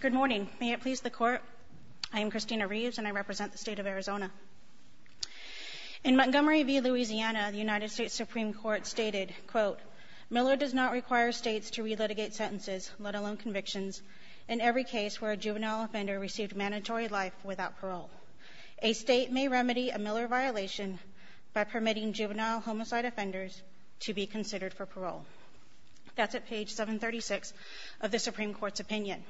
Good morning, may it please the court, I am Christina Reeves and I represent the state of Arizona. In Montgomery v. Louisiana, the United States Supreme Court stated, quote, Miller does not require states to relitigate sentences, let alone convictions, in every case where a juvenile offender received mandatory life without parole. A state may remedy a Miller violation by permitting juvenile homicide offenders to be considered for parole. That's at page 736 of the Supreme Court's opinion.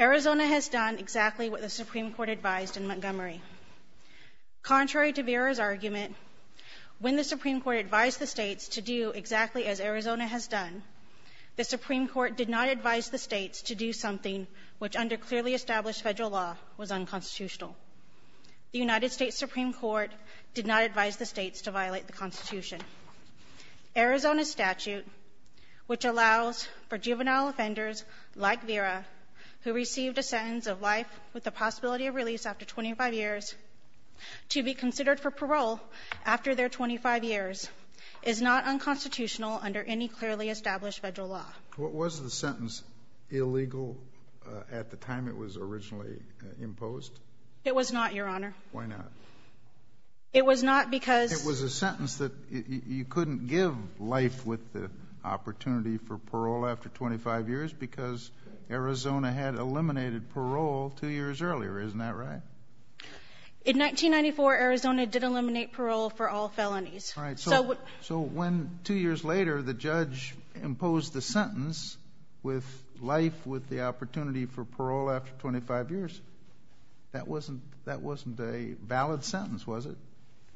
Arizona has done exactly what the Supreme Court advised in Montgomery. Contrary to Vera's argument, when the Supreme Court advised the states to do exactly as Arizona has done, the Supreme Court did not advise the states to do something which under clearly established federal law was unconstitutional. The United States Supreme Court did not advise the states to violate the Constitution. Arizona's statute, which allows for juvenile offenders like Vera, who received a sentence of life with the possibility of release after 25 years, to be considered for parole after their 25 years, is not unconstitutional under any clearly established federal law. What was the sentence illegal at the time it was originally imposed? It was not, Your Honor. Why not? It was not because It was a sentence that you couldn't give life with the opportunity for parole after 25 years because Arizona had eliminated parole two years earlier, isn't that right? In 1994, Arizona did eliminate parole for all felonies. Right. So when two years later, the judge imposed the sentence with life with the opportunity for parole after 25 years, that wasn't a valid sentence, was it?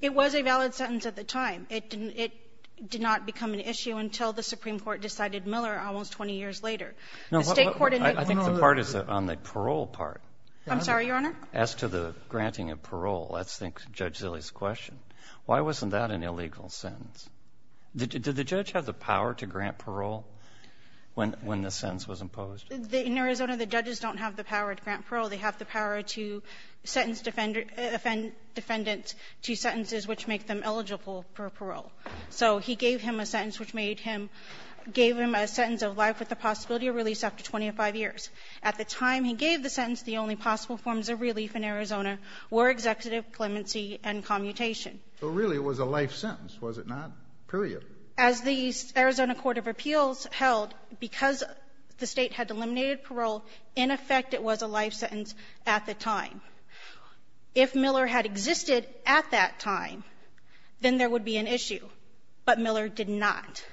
It was a valid sentence at the time. It didn't — it did not become an issue until the Supreme Court decided Miller almost 20 years later. No, I think the part is on the parole part. I'm sorry, Your Honor? As to the granting of parole, that's, I think, Judge Zille's question. Why wasn't that an illegal sentence? Did the judge have the power to grant parole when the sentence was imposed? In Arizona, the judges don't have the power to grant parole. They have the power to sentence defendants to sentences which make them eligible for parole. So he gave him a sentence which made him — gave him a sentence of life with the possibility of release after 25 years. At the time he gave the sentence, the only possible forms of relief in Arizona were executive clemency and commutation. So really, it was a life sentence, was it not, period? As the Arizona Court of Appeals held, because the State had eliminated parole, in effect it was a life sentence at the time. If Miller had existed at that time, then there would be an issue. But Miller did not.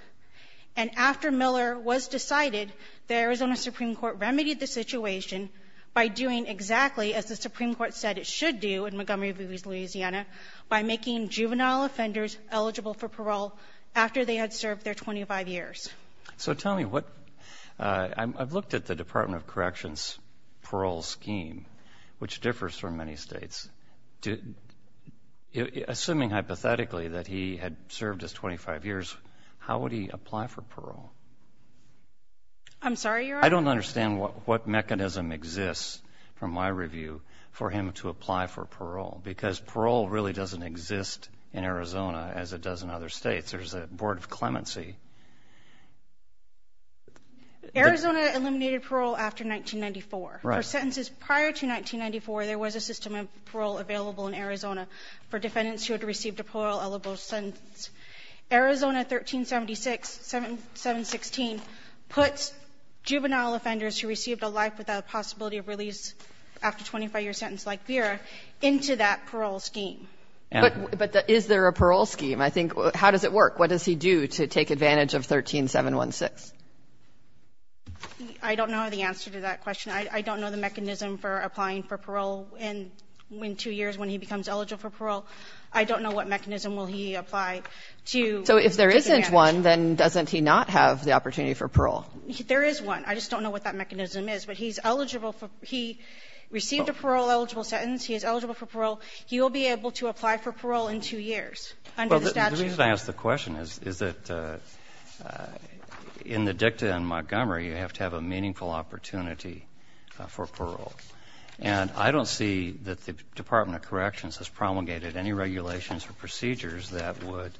And after Miller was decided, the Arizona Supreme Court remedied the situation by doing exactly as the Supreme Court said it should do in Montgomery v. Louisiana, by making juvenile offenders eligible for parole after they had served their 25 years. So tell me, what — I've looked at the Department of Corrections parole scheme, which differs from many states. Assuming hypothetically that he had served his 25 years, how would he apply for parole? I'm sorry, Your Honor? I don't understand what mechanism exists, from my review, for him to apply for parole. Because parole really doesn't exist in Arizona as it does in other states. There's a board of clemency. Arizona eliminated parole after 1994. Right. For sentences prior to 1994, there was a system of parole available in Arizona for defendants who had received a parole-eligible sentence. Arizona 1376-716 puts juvenile offenders who received a life without a possibility of release after a 25-year sentence, like Vera, into that parole scheme. But is there a parole scheme? I think — how does it work? What does he do to take advantage of 13716? I don't know the answer to that question. I don't know the mechanism for applying for parole in two years when he becomes eligible for parole. I don't know what mechanism will he apply to take advantage. So if there isn't one, then doesn't he not have the opportunity for parole? There is one. I just don't know what that mechanism is. But he's eligible for — he received a parole-eligible sentence. He is eligible for parole. He will be able to apply for parole in two years under the statute. Well, the reason I ask the question is that in the dicta in Montgomery, you have to have a meaningful opportunity for parole. And I don't see that the Department of Corrections has promulgated any regulations or procedures that would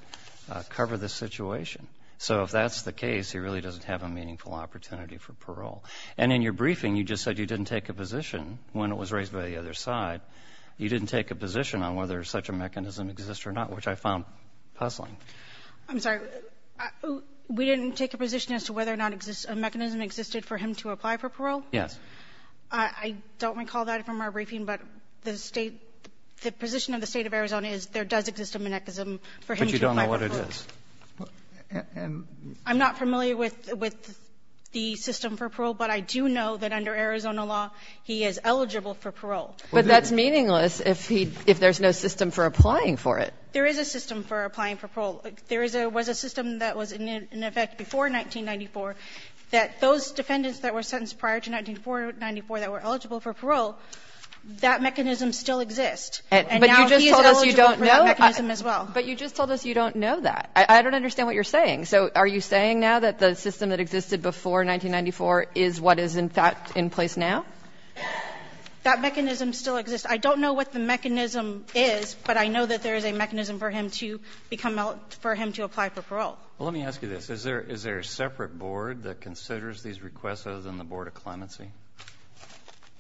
cover this situation. So if that's the case, he really doesn't have a meaningful opportunity for parole. And in your briefing, you just said you didn't take a position when it was raised by the other side. You didn't take a position on whether such a mechanism exists or not, which I found puzzling. I'm sorry. We didn't take a position as to whether or not a mechanism existed for him to apply for parole? Yes. I don't recall that from our briefing, but the State — the position of the State of Arizona is there does exist a mechanism for him to apply for parole. But you don't know what it is. I'm not familiar with the system for parole, but I do know that under Arizona law, he is eligible for parole. But that's meaningless if he — if there's no system for applying for it. There is a system for applying for parole. There is a — was a system that was in effect before 1994 that those defendants that were sentenced prior to 1994 that were eligible for parole, that mechanism still exists. And now he's eligible for that mechanism as well. But you just told us you don't know that. I don't understand what you're saying. So are you saying now that the system that existed before 1994 is what is in fact in place now? That mechanism still exists. I don't know what the mechanism is, but I know that there is a mechanism for him to become — for him to apply for parole. Well, let me ask you this. Is there a separate board that considers these requests other than the Board of Clemency?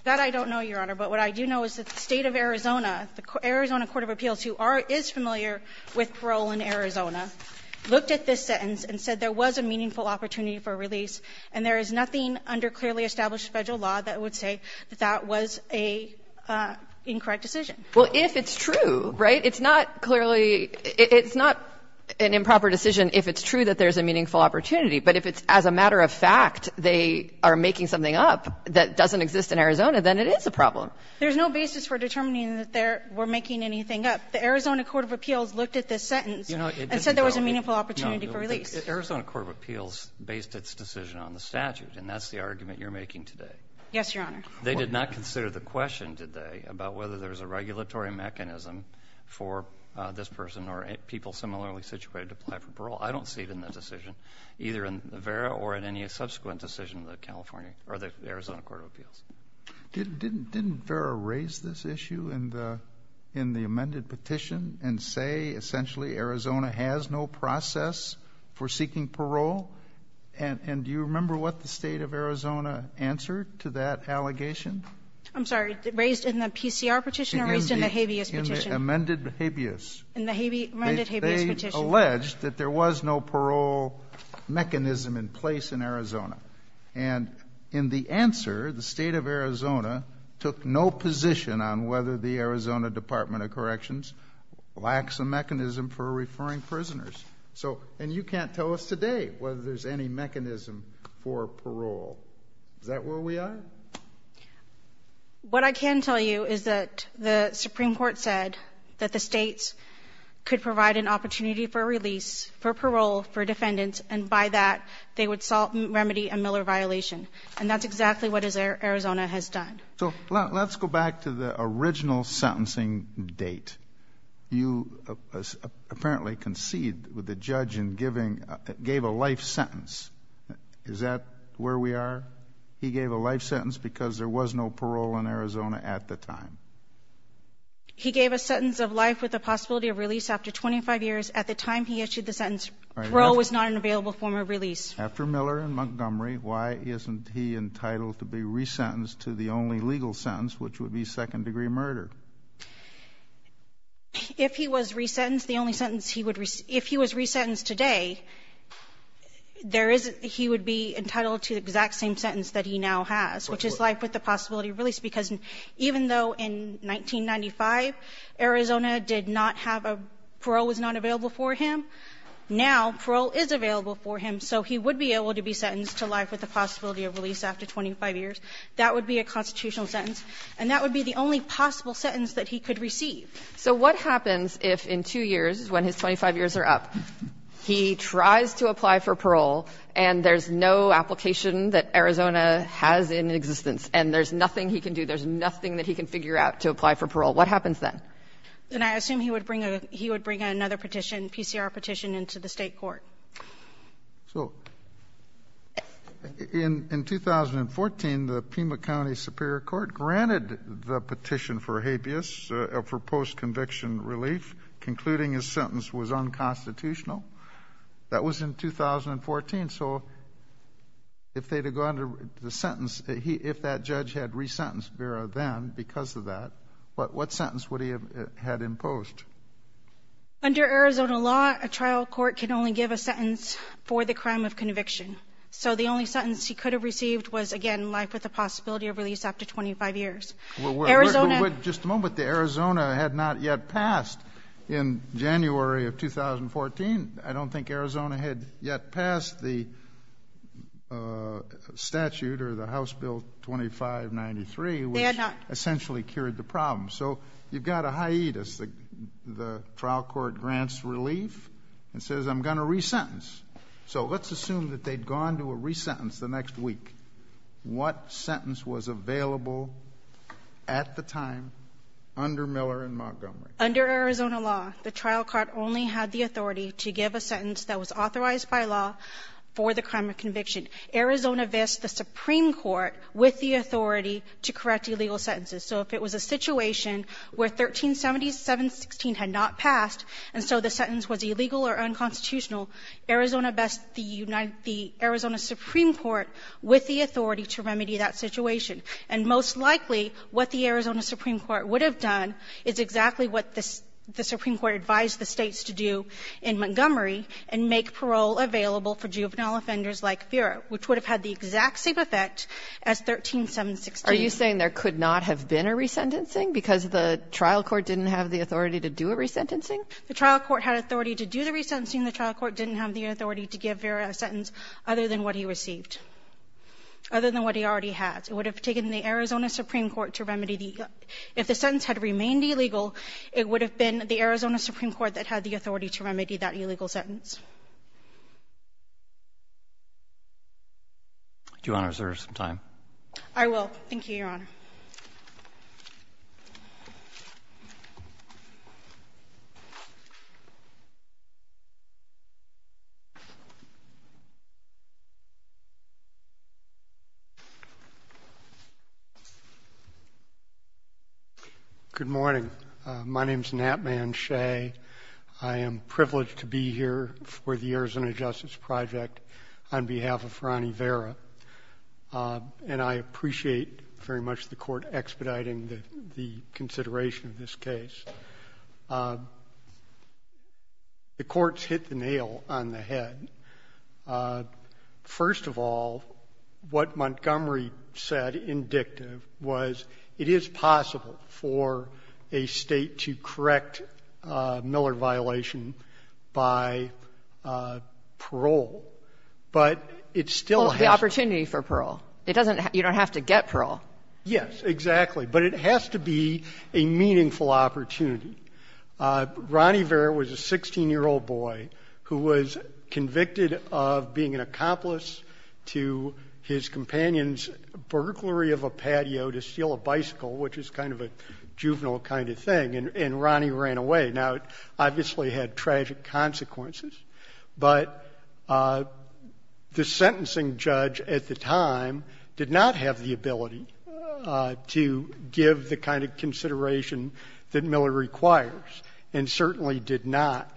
That I don't know, Your Honor. But what I do know is that the State of Arizona, the Arizona Court of Appeals, who are — is familiar with parole in Arizona, looked at this sentence and said there was a meaningful opportunity for release, and there is nothing under clearly established Federal law that would say that that was a incorrect decision. Well, if it's true, right, it's not clearly — it's not an improper decision if it's true that there's a meaningful opportunity. But if it's as a matter of fact they are making something up that doesn't exist in Arizona, then it is a problem. There's no basis for determining that they were making anything up. The Arizona Court of Appeals looked at this sentence and said there was a meaningful opportunity for release. No, the Arizona Court of Appeals based its decision on the statute, and that's the argument you're making today. Yes, Your Honor. They did not consider the question, did they, about whether there's a regulatory mechanism for this person or people similarly situated to apply for parole. I don't see it in the decision, either in the VERA or in any subsequent decision of the California — or the Arizona Court of Appeals. Didn't VERA raise this issue in the — in the amended petition and say essentially Arizona has no process for seeking parole? And do you remember what the State of Arizona answered to that allegation? I'm sorry. Raised in the PCR petition or raised in the habeas petition? In the amended habeas. In the habeas — amended habeas petition. They alleged that there was no parole mechanism in place in Arizona. And in the answer, the State of Arizona took no position on whether the Arizona Department of Corrections lacks a mechanism for referring prisoners. So — and you can't tell us today whether there's any mechanism for parole. Is that where we are? What I can tell you is that the Supreme Court said that the states could provide an opportunity for release, for parole, for defendants, and by that they would solve — remedy a Miller violation. And that's exactly what Arizona has done. So let's go back to the original sentencing date. You apparently conceded with the judge in giving — gave a life sentence. Is that where we are? He gave a life sentence because there was no parole in Arizona at the time. He gave a sentence of life with the possibility of release after 25 years. At the time he issued the sentence, parole was not an available form of release. After Miller in Montgomery, why isn't he entitled to be resentenced to the only degree of murder? If he was resentenced, the only sentence he would — if he was resentenced today, there is — he would be entitled to the exact same sentence that he now has, which is life with the possibility of release, because even though in 1995 Arizona did not have a — parole was not available for him, now parole is available for him, so he would be able to be sentenced to life with the possibility of release after 25 years. That would be a constitutional sentence. And that would be the only possible sentence that he could receive. So what happens if in two years, when his 25 years are up, he tries to apply for parole and there's no application that Arizona has in existence and there's nothing he can do, there's nothing that he can figure out to apply for parole? What happens then? And I assume he would bring a — he would bring another petition, PCR petition, into the State court. So, in 2014, the Pima County Superior Court granted the petition for habeas, for post-conviction relief, concluding his sentence was unconstitutional. That was in 2014. So, if they had gone to the sentence — if that judge had resentenced Vera then because of that, what sentence would he have had imposed? Under Arizona law, a trial court can only give a sentence for the crime of conviction. So the only sentence he could have received was, again, life with the possibility of release after 25 years. Arizona — Well, just a moment. The Arizona had not yet passed in January of 2014. I don't think Arizona had yet passed the statute or the House Bill 2593 — They had not. — which essentially cured the problem. So, you've got a hiatus. The trial court grants relief and says, I'm going to resentence. So, let's assume that they'd gone to a resentence the next week. What sentence was available at the time under Miller and Montgomery? Under Arizona law, the trial court only had the authority to give a sentence that was authorized by law for the crime of conviction. Arizona vests the Supreme Court with the authority to correct illegal sentences. So, if it was a situation where 1370, 716 had not passed, and so the sentence was illegal or unconstitutional, Arizona vests the United — the Arizona Supreme Court with the authority to remedy that situation. And most likely, what the Arizona Supreme Court would have done is exactly what the Supreme Court advised the States to do in Montgomery and make parole available for juvenile offenders like Vera, which would have had the exact same effect as 1376. Are you saying there could not have been a resentencing because the trial court didn't have the authority to do a resentencing? The trial court had authority to do the resentencing. The trial court didn't have the authority to give Vera a sentence other than what he received, other than what he already had. It would have taken the Arizona Supreme Court to remedy the — if the sentence had remained illegal, it would have been the Arizona Supreme Court that had the authority to remedy that illegal sentence. Do you want to reserve some time? I will. Thank you, Your Honor. Good morning. My name is Natman Shea. I am privileged to be here for the Arizona Justice Project on behalf of I appreciate very much the Court expediting the consideration of this case. The Court's hit the nail on the head. First of all, what Montgomery said, indictive, was it is possible for a State to correct Miller violation by parole, but it still has to be the opportunity for parole. It doesn't — you don't have to get parole. Yes, exactly. But it has to be a meaningful opportunity. Ronnie Vera was a 16-year-old boy who was convicted of being an accomplice to his companion's burglary of a patio to steal a bicycle, which is kind of a juvenile kind of thing, and Ronnie ran away. Now, it obviously had tragic consequences, but the sentencing judge at the time did not have the ability to give the kind of consideration that Miller requires and certainly did not.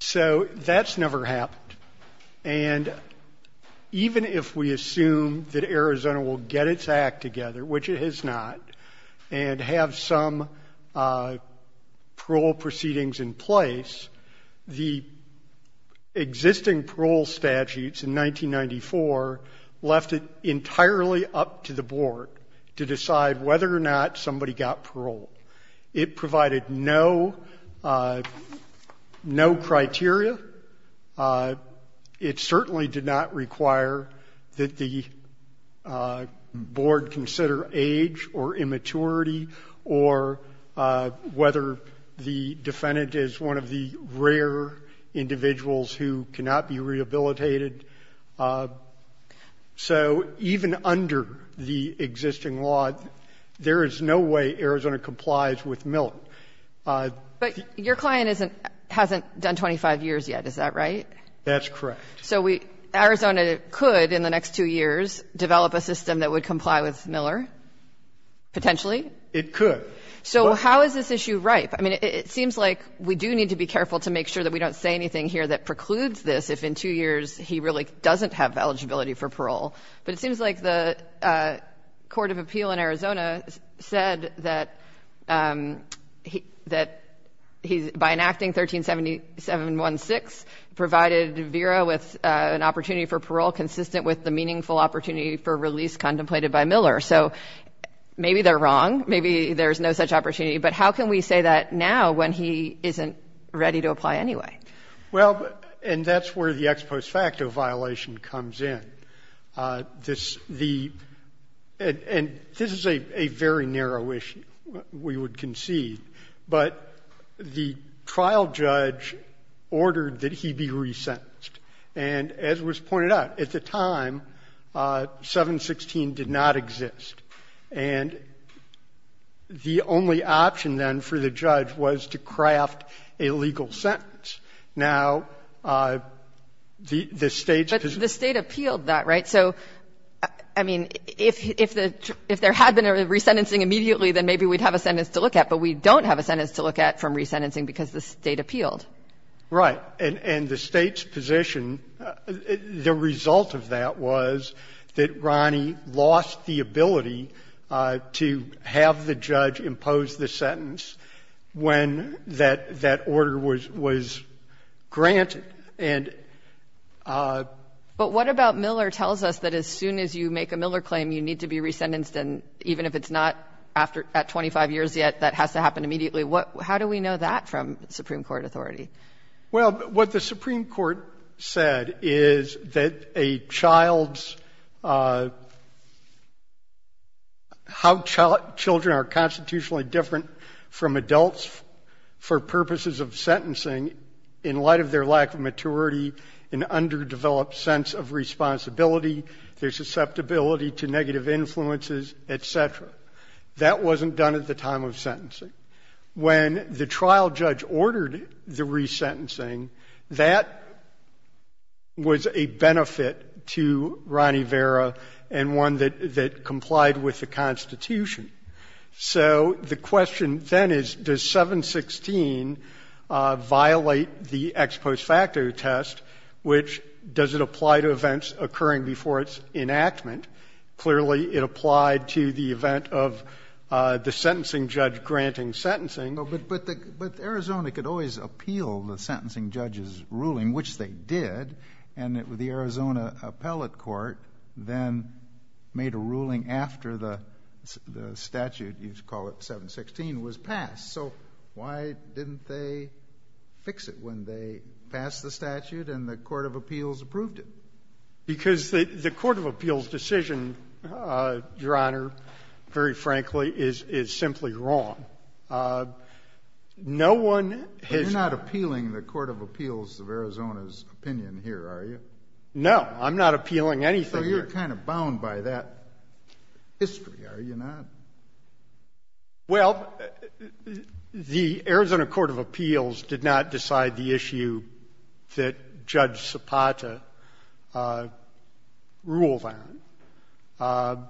So that's never happened. And even if we assume that Arizona will get its act together, which it has not, and have some parole proceedings in place, the existing parole statutes in 1994 left it entirely up to the Board to decide whether or not somebody got parole. It provided no criteria. It certainly did not require that the Board consider age or immaturity or whether the defendant is one of the rare individuals who cannot be rehabilitated. So even under the existing law, there is no way Arizona complies with Miller. So I think that's a good point. But your client isn't — hasn't done 25 years yet, is that right? That's correct. So we — Arizona could, in the next two years, develop a system that would comply with Miller, potentially? It could. So how is this issue ripe? I mean, it seems like we do need to be careful to make sure that we don't say anything here that precludes this if in two years he really doesn't have eligibility for parole. But it seems like the Court of Appeal in Arizona said that he's — by enacting 137716, provided Vera with an opportunity for parole consistent with the meaningful opportunity for release contemplated by Miller. So maybe they're wrong. Maybe there's no such opportunity. But how can we say that now when he isn't ready to apply anyway? Well, and that's where the ex post facto violation comes in. This — the — and this is a very narrow issue, we would concede. But the trial judge ordered that he be resentenced. And as was pointed out, at the time, 716 did not exist. And the only option then for the judge was to craft a legal sentence. Now, the State's position — But the State appealed that, right? So, I mean, if the — if there had been a resentencing immediately, then maybe we'd have a sentence to look at, but we don't have a sentence to look at from resentencing because the State appealed. Right. And the State's position, the result of that was that Ronnie lost the ability to have the judge impose the sentence when that — that order was — was granted. And — But what about Miller tells us that as soon as you make a Miller claim, you need to be resentenced, and even if it's not after — at 25 years yet, that has to happen immediately? How do we know that from Supreme Court authority? Well, what the Supreme Court said is that a child's — how children are constitutionally different from adults for purposes of sentencing in light of their lack of maturity, an underdeveloped sense of responsibility, their susceptibility to negative influences, et cetera. When the trial judge ordered the resentencing, that was a benefit to Ronnie Vera and one that — that complied with the Constitution. So the question then is, does 716 violate the ex post facto test, which — does it apply to events occurring before its enactment? Clearly, it applied to the event of the sentencing judge granting sentencing. But Arizona could always appeal the sentencing judge's ruling, which they did, and the Arizona appellate court then made a ruling after the statute — you call it 716 — was passed. So why didn't they fix it when they passed the statute and the court of appeals approved it? Because the court of appeals decision, Your Honor, very frankly, is simply wrong. No one has — But you're not appealing the court of appeals of Arizona's opinion here, are you? No. I'm not appealing anything here. So you're kind of bound by that history, are you not? Well, the Arizona court of appeals did not decide the issue that Judge Zapata ruled on.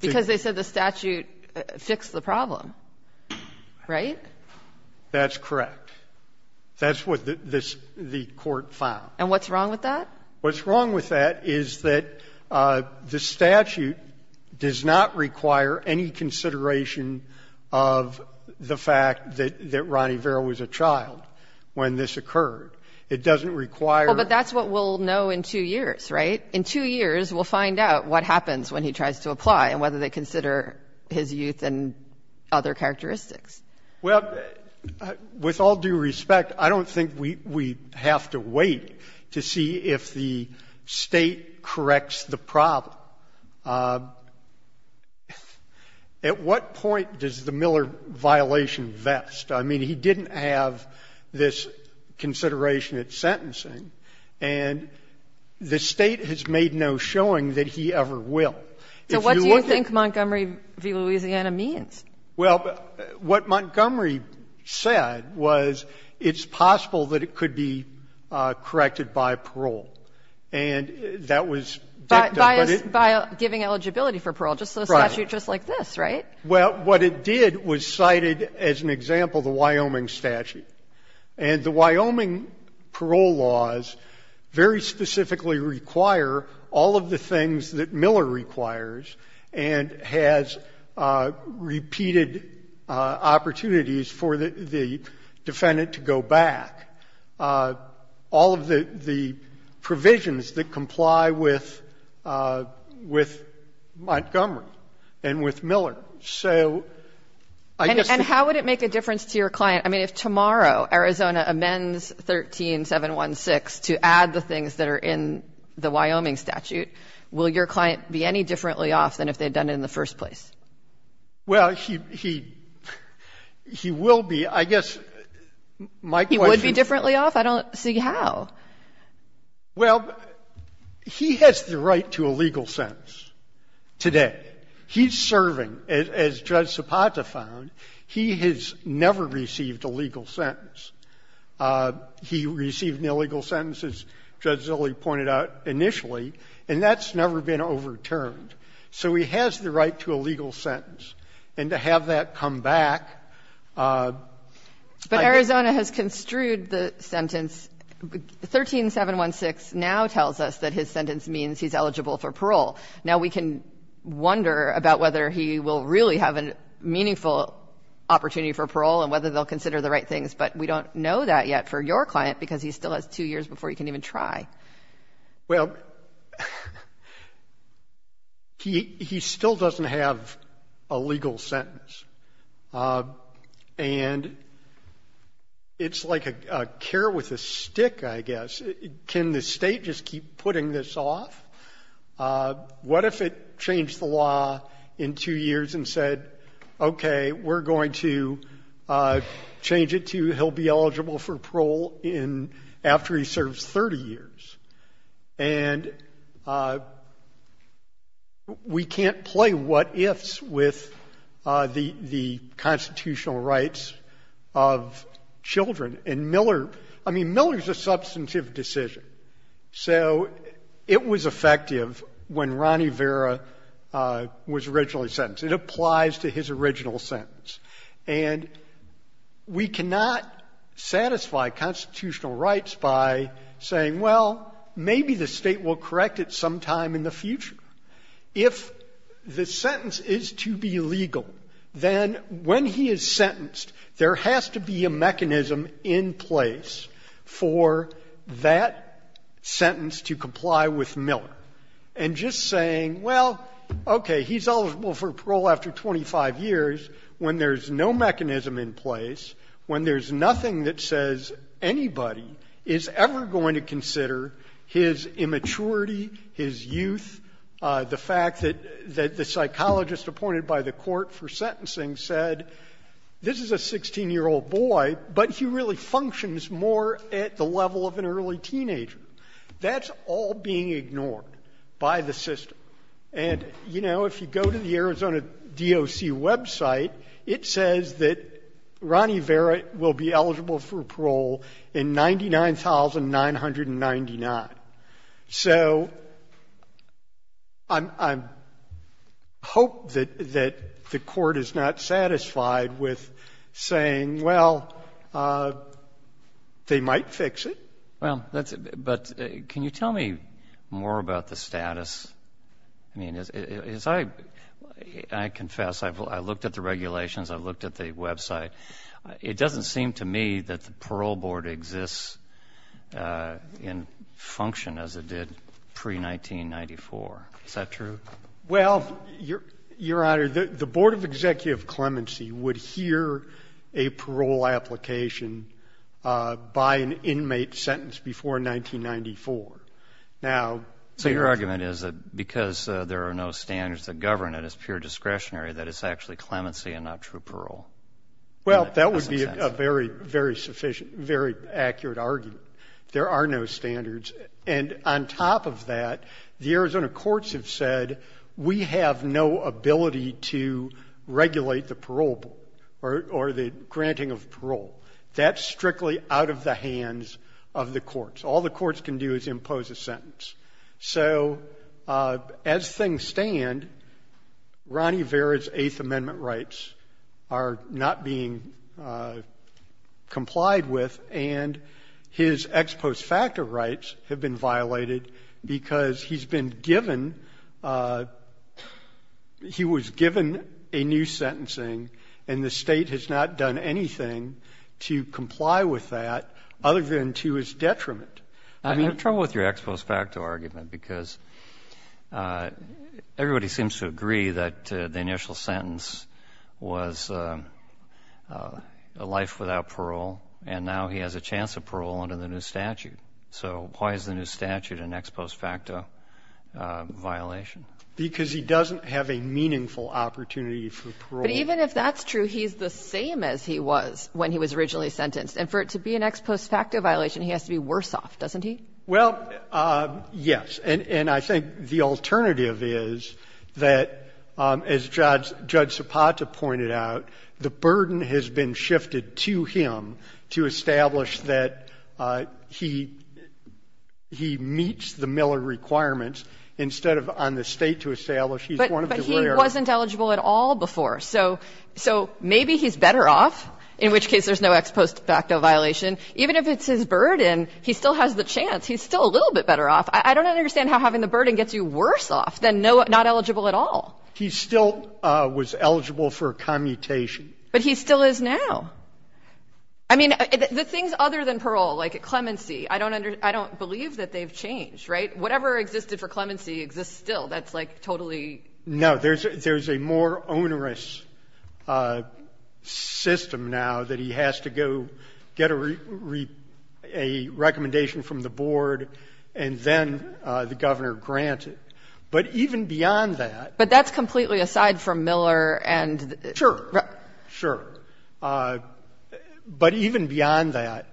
Because they said the statute fixed the problem, right? That's correct. That's what the court found. And what's wrong with that? What's wrong with that is that the statute does not require any consideration of the fact that Ronnie Vera was a child when this occurred. It doesn't require — Well, but that's what we'll know in two years, right? In two years, we'll find out what happens when he tries to apply and whether they consider his youth and other characteristics. Well, with all due respect, I don't think we have to wait to see if the State corrects the problem. At what point does the Miller violation vest? I mean, he didn't have this consideration at sentencing, and the State has made no showing that he ever will. If you look at — So what do you think Montgomery v. Louisiana means? Well, what Montgomery said was it's possible that it could be corrected by parole. And that was backed up, but it — By giving eligibility for parole, just a statute just like this, right? Well, what it did was cited, as an example, the Wyoming statute. And the Wyoming parole laws very specifically require all of the things that Miller requires and has repeated opportunities for the defendant to go back, all of the provisions that comply with Montgomery and with Miller. So I guess — And how would it make a difference to your client? I mean, if tomorrow Arizona amends 13-716 to add the things that are in the Wyoming statute, will your client be any differently off than if they had done it in the first place? Well, he — he will be. I guess my question is — He would be differently off? I don't see how. Well, he has the right to a legal sentence today. He's serving, as Judge Zapata found, he has never received a legal sentence. He received an illegal sentence, as Judge Zilley pointed out initially, and that's never been overturned. So he has the right to a legal sentence. And to have that come back — But Arizona has construed the sentence. 13-716 now tells us that his sentence means he's eligible for parole. Now we can wonder about whether he will really have a meaningful opportunity for parole and whether they'll consider the right things. But we don't know that yet for your client because he still has two years before he can even try. Well, he still doesn't have a legal sentence. And it's like a care with a stick, I guess. Can the state just keep putting this off? What if it changed the law in two years and said, OK, we're going to change it to he'll be eligible for parole after he serves 30 years? And we can't play what-ifs with the constitutional rights of children. And Miller — I mean, Miller's a substantive decision. So it was effective when Ronnie Vera was originally sentenced. It applies to his original sentence. And we cannot satisfy constitutional rights by saying, well, maybe the state will correct it sometime in the future. If the sentence is to be legal, then when he is sentenced, there has to be a mechanism in place for that sentence to comply with Miller. And just saying, well, OK, he's eligible for parole after 25 years when there's no mechanism in place, when there's nothing that says anybody is ever going to consider his immaturity, his youth, the fact that the psychologist appointed by the court for sentencing said this is a 16-year-old boy, but he really functions more at the level of an early teenager. That's all being ignored by the system. And you know, if you go to the Arizona DOC website, it says that Ronnie Vera will be eligible for parole in 99,999. So I hope that the court is not satisfied with saying, well, they might fix it. Well, but can you tell me more about the status? I mean, as I confess, I've looked at the regulations, I've looked at the website. It doesn't seem to me that the parole board exists in function as it did pre-1994. Is that true? Well, Your Honor, the Board of Executive Clemency would hear a parole application by an inmate sentenced before 1994. Now, so your argument is that because there are no standards that govern it as pure discretionary that it's actually clemency and not true parole? Well, that would be a very, very sufficient, very accurate argument. There are no standards. And on top of that, the Arizona courts have said we have no ability to regulate the parole board or the granting of parole. That's strictly out of the hands of the courts. All the courts can do is impose a sentence. So as things stand, Ronnie Vera's Eighth Amendment rights are not being complied with, and his ex post facto rights have been violated because he's been given, he was given a new sentencing, and the State has not done anything to comply with that other than to his detriment. I'm in trouble with your ex post facto argument because everybody seems to agree that the initial sentence was a life without parole, and now he has a chance of parole under the new statute. So why is the new statute an ex post facto violation? Because he doesn't have a meaningful opportunity for parole. But even if that's true, he's the same as he was when he was originally sentenced. And for it to be an ex post facto violation, he has to be worse off, doesn't he? Well, yes. And I think the alternative is that, as Judge Sopata pointed out, the burden has been shifted to him to establish that he meets the Miller requirements instead of on the State to establish he's one of the rarer. But he wasn't eligible at all before. So maybe he's better off, in which case there's no ex post facto violation. Even if it's his burden, he still has the chance. He's still a little bit better off. I don't understand how having the burden gets you worse off than not eligible at all. He still was eligible for a commutation. But he still is now. I mean, the things other than parole, like clemency, I don't believe that they've changed, right? Whatever existed for clemency exists still. That's like totally. No. There's a more onerous system now that he has to go get a recommendation from the board and then the governor grants it. But even beyond that. But that's completely aside from Miller and. Sure. Sure. But even beyond that,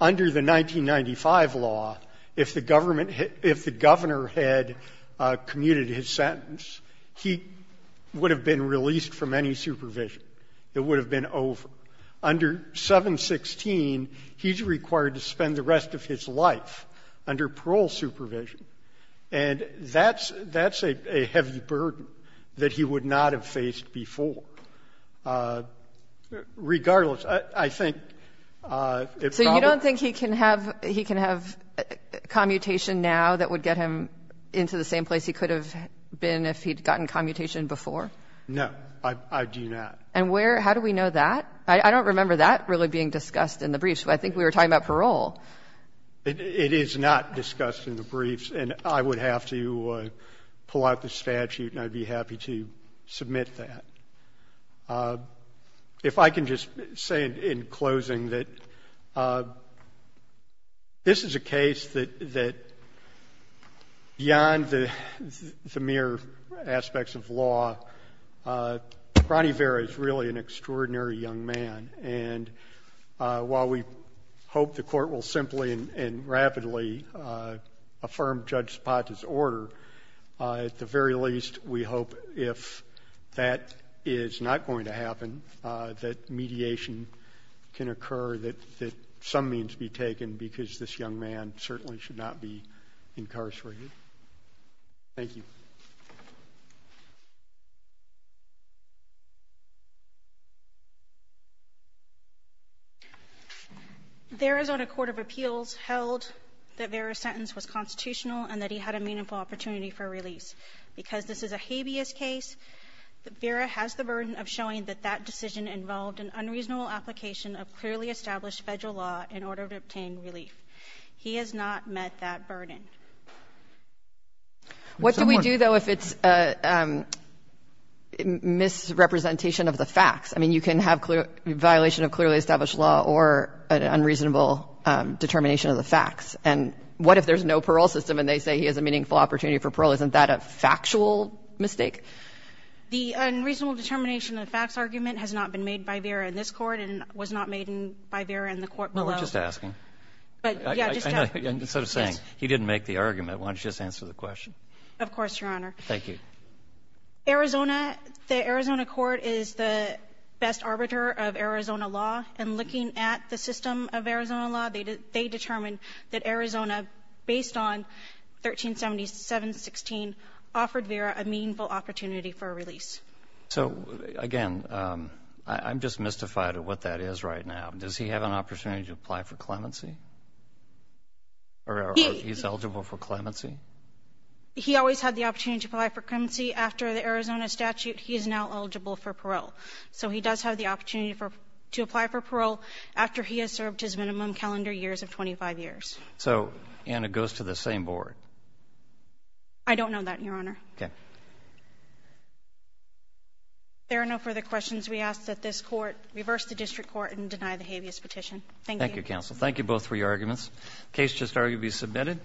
under the 1995 law, if the government had — if the governor had commuted his sentence, he would have been released from any supervision. It would have been over. Under 716, he's required to spend the rest of his life under parole supervision. And that's a heavy burden that he would not have faced before. Regardless, I think it probably. I don't think he can have — he can have commutation now that would get him into the same place he could have been if he'd gotten commutation before. No. I do not. And where — how do we know that? I don't remember that really being discussed in the briefs, but I think we were talking about parole. It is not discussed in the briefs, and I would have to pull out the statute, and I'd be happy to submit that. But if I can just say in closing that this is a case that beyond the mere aspects of law, Ronnie Vera is really an extraordinary young man. And while we hope the Court will simply and rapidly affirm Judge Zapata's order, at the very least, we hope if that is not going to happen, that mediation can occur, that some means be taken because this young man certainly should not be incarcerated. Thank you. There is on a court of appeals held that Vera's sentence was constitutional and that he had a meaningful opportunity for release. Because this is a habeas case, Vera has the burden of showing that that decision involved an unreasonable application of clearly established Federal law in order to obtain relief. He has not met that burden. What do we do, though, if it's a misrepresentation of the facts? I mean, you can have violation of clearly established law or an unreasonable determination of the facts. And what if there's no parole system and they say he has a meaningful opportunity for parole? Isn't that a factual mistake? The unreasonable determination of the facts argument has not been made by Vera in this court and was not made by Vera in the court below. No, we're just asking. But, yeah, just to ask. Instead of saying he didn't make the argument, why don't you just answer the question? Of course, Your Honor. Thank you. Arizona, the Arizona court is the best arbiter of Arizona law. And looking at the system of Arizona law, they determined that Arizona, based on 137716, offered Vera a meaningful opportunity for a release. So, again, I'm just mystified at what that is right now. Does he have an opportunity to apply for clemency? Or is he eligible for clemency? He always had the opportunity to apply for clemency. After the Arizona statute, he is now eligible for parole. So he does have the opportunity to apply for parole after he has served his minimum calendar years of 25 years. So, and it goes to the same board? I don't know that, Your Honor. Okay. There are no further questions. We ask that this court reverse the district court and deny the habeas petition. Thank you. Thank you, counsel. Thank you both for your arguments. Case just argued to be submitted.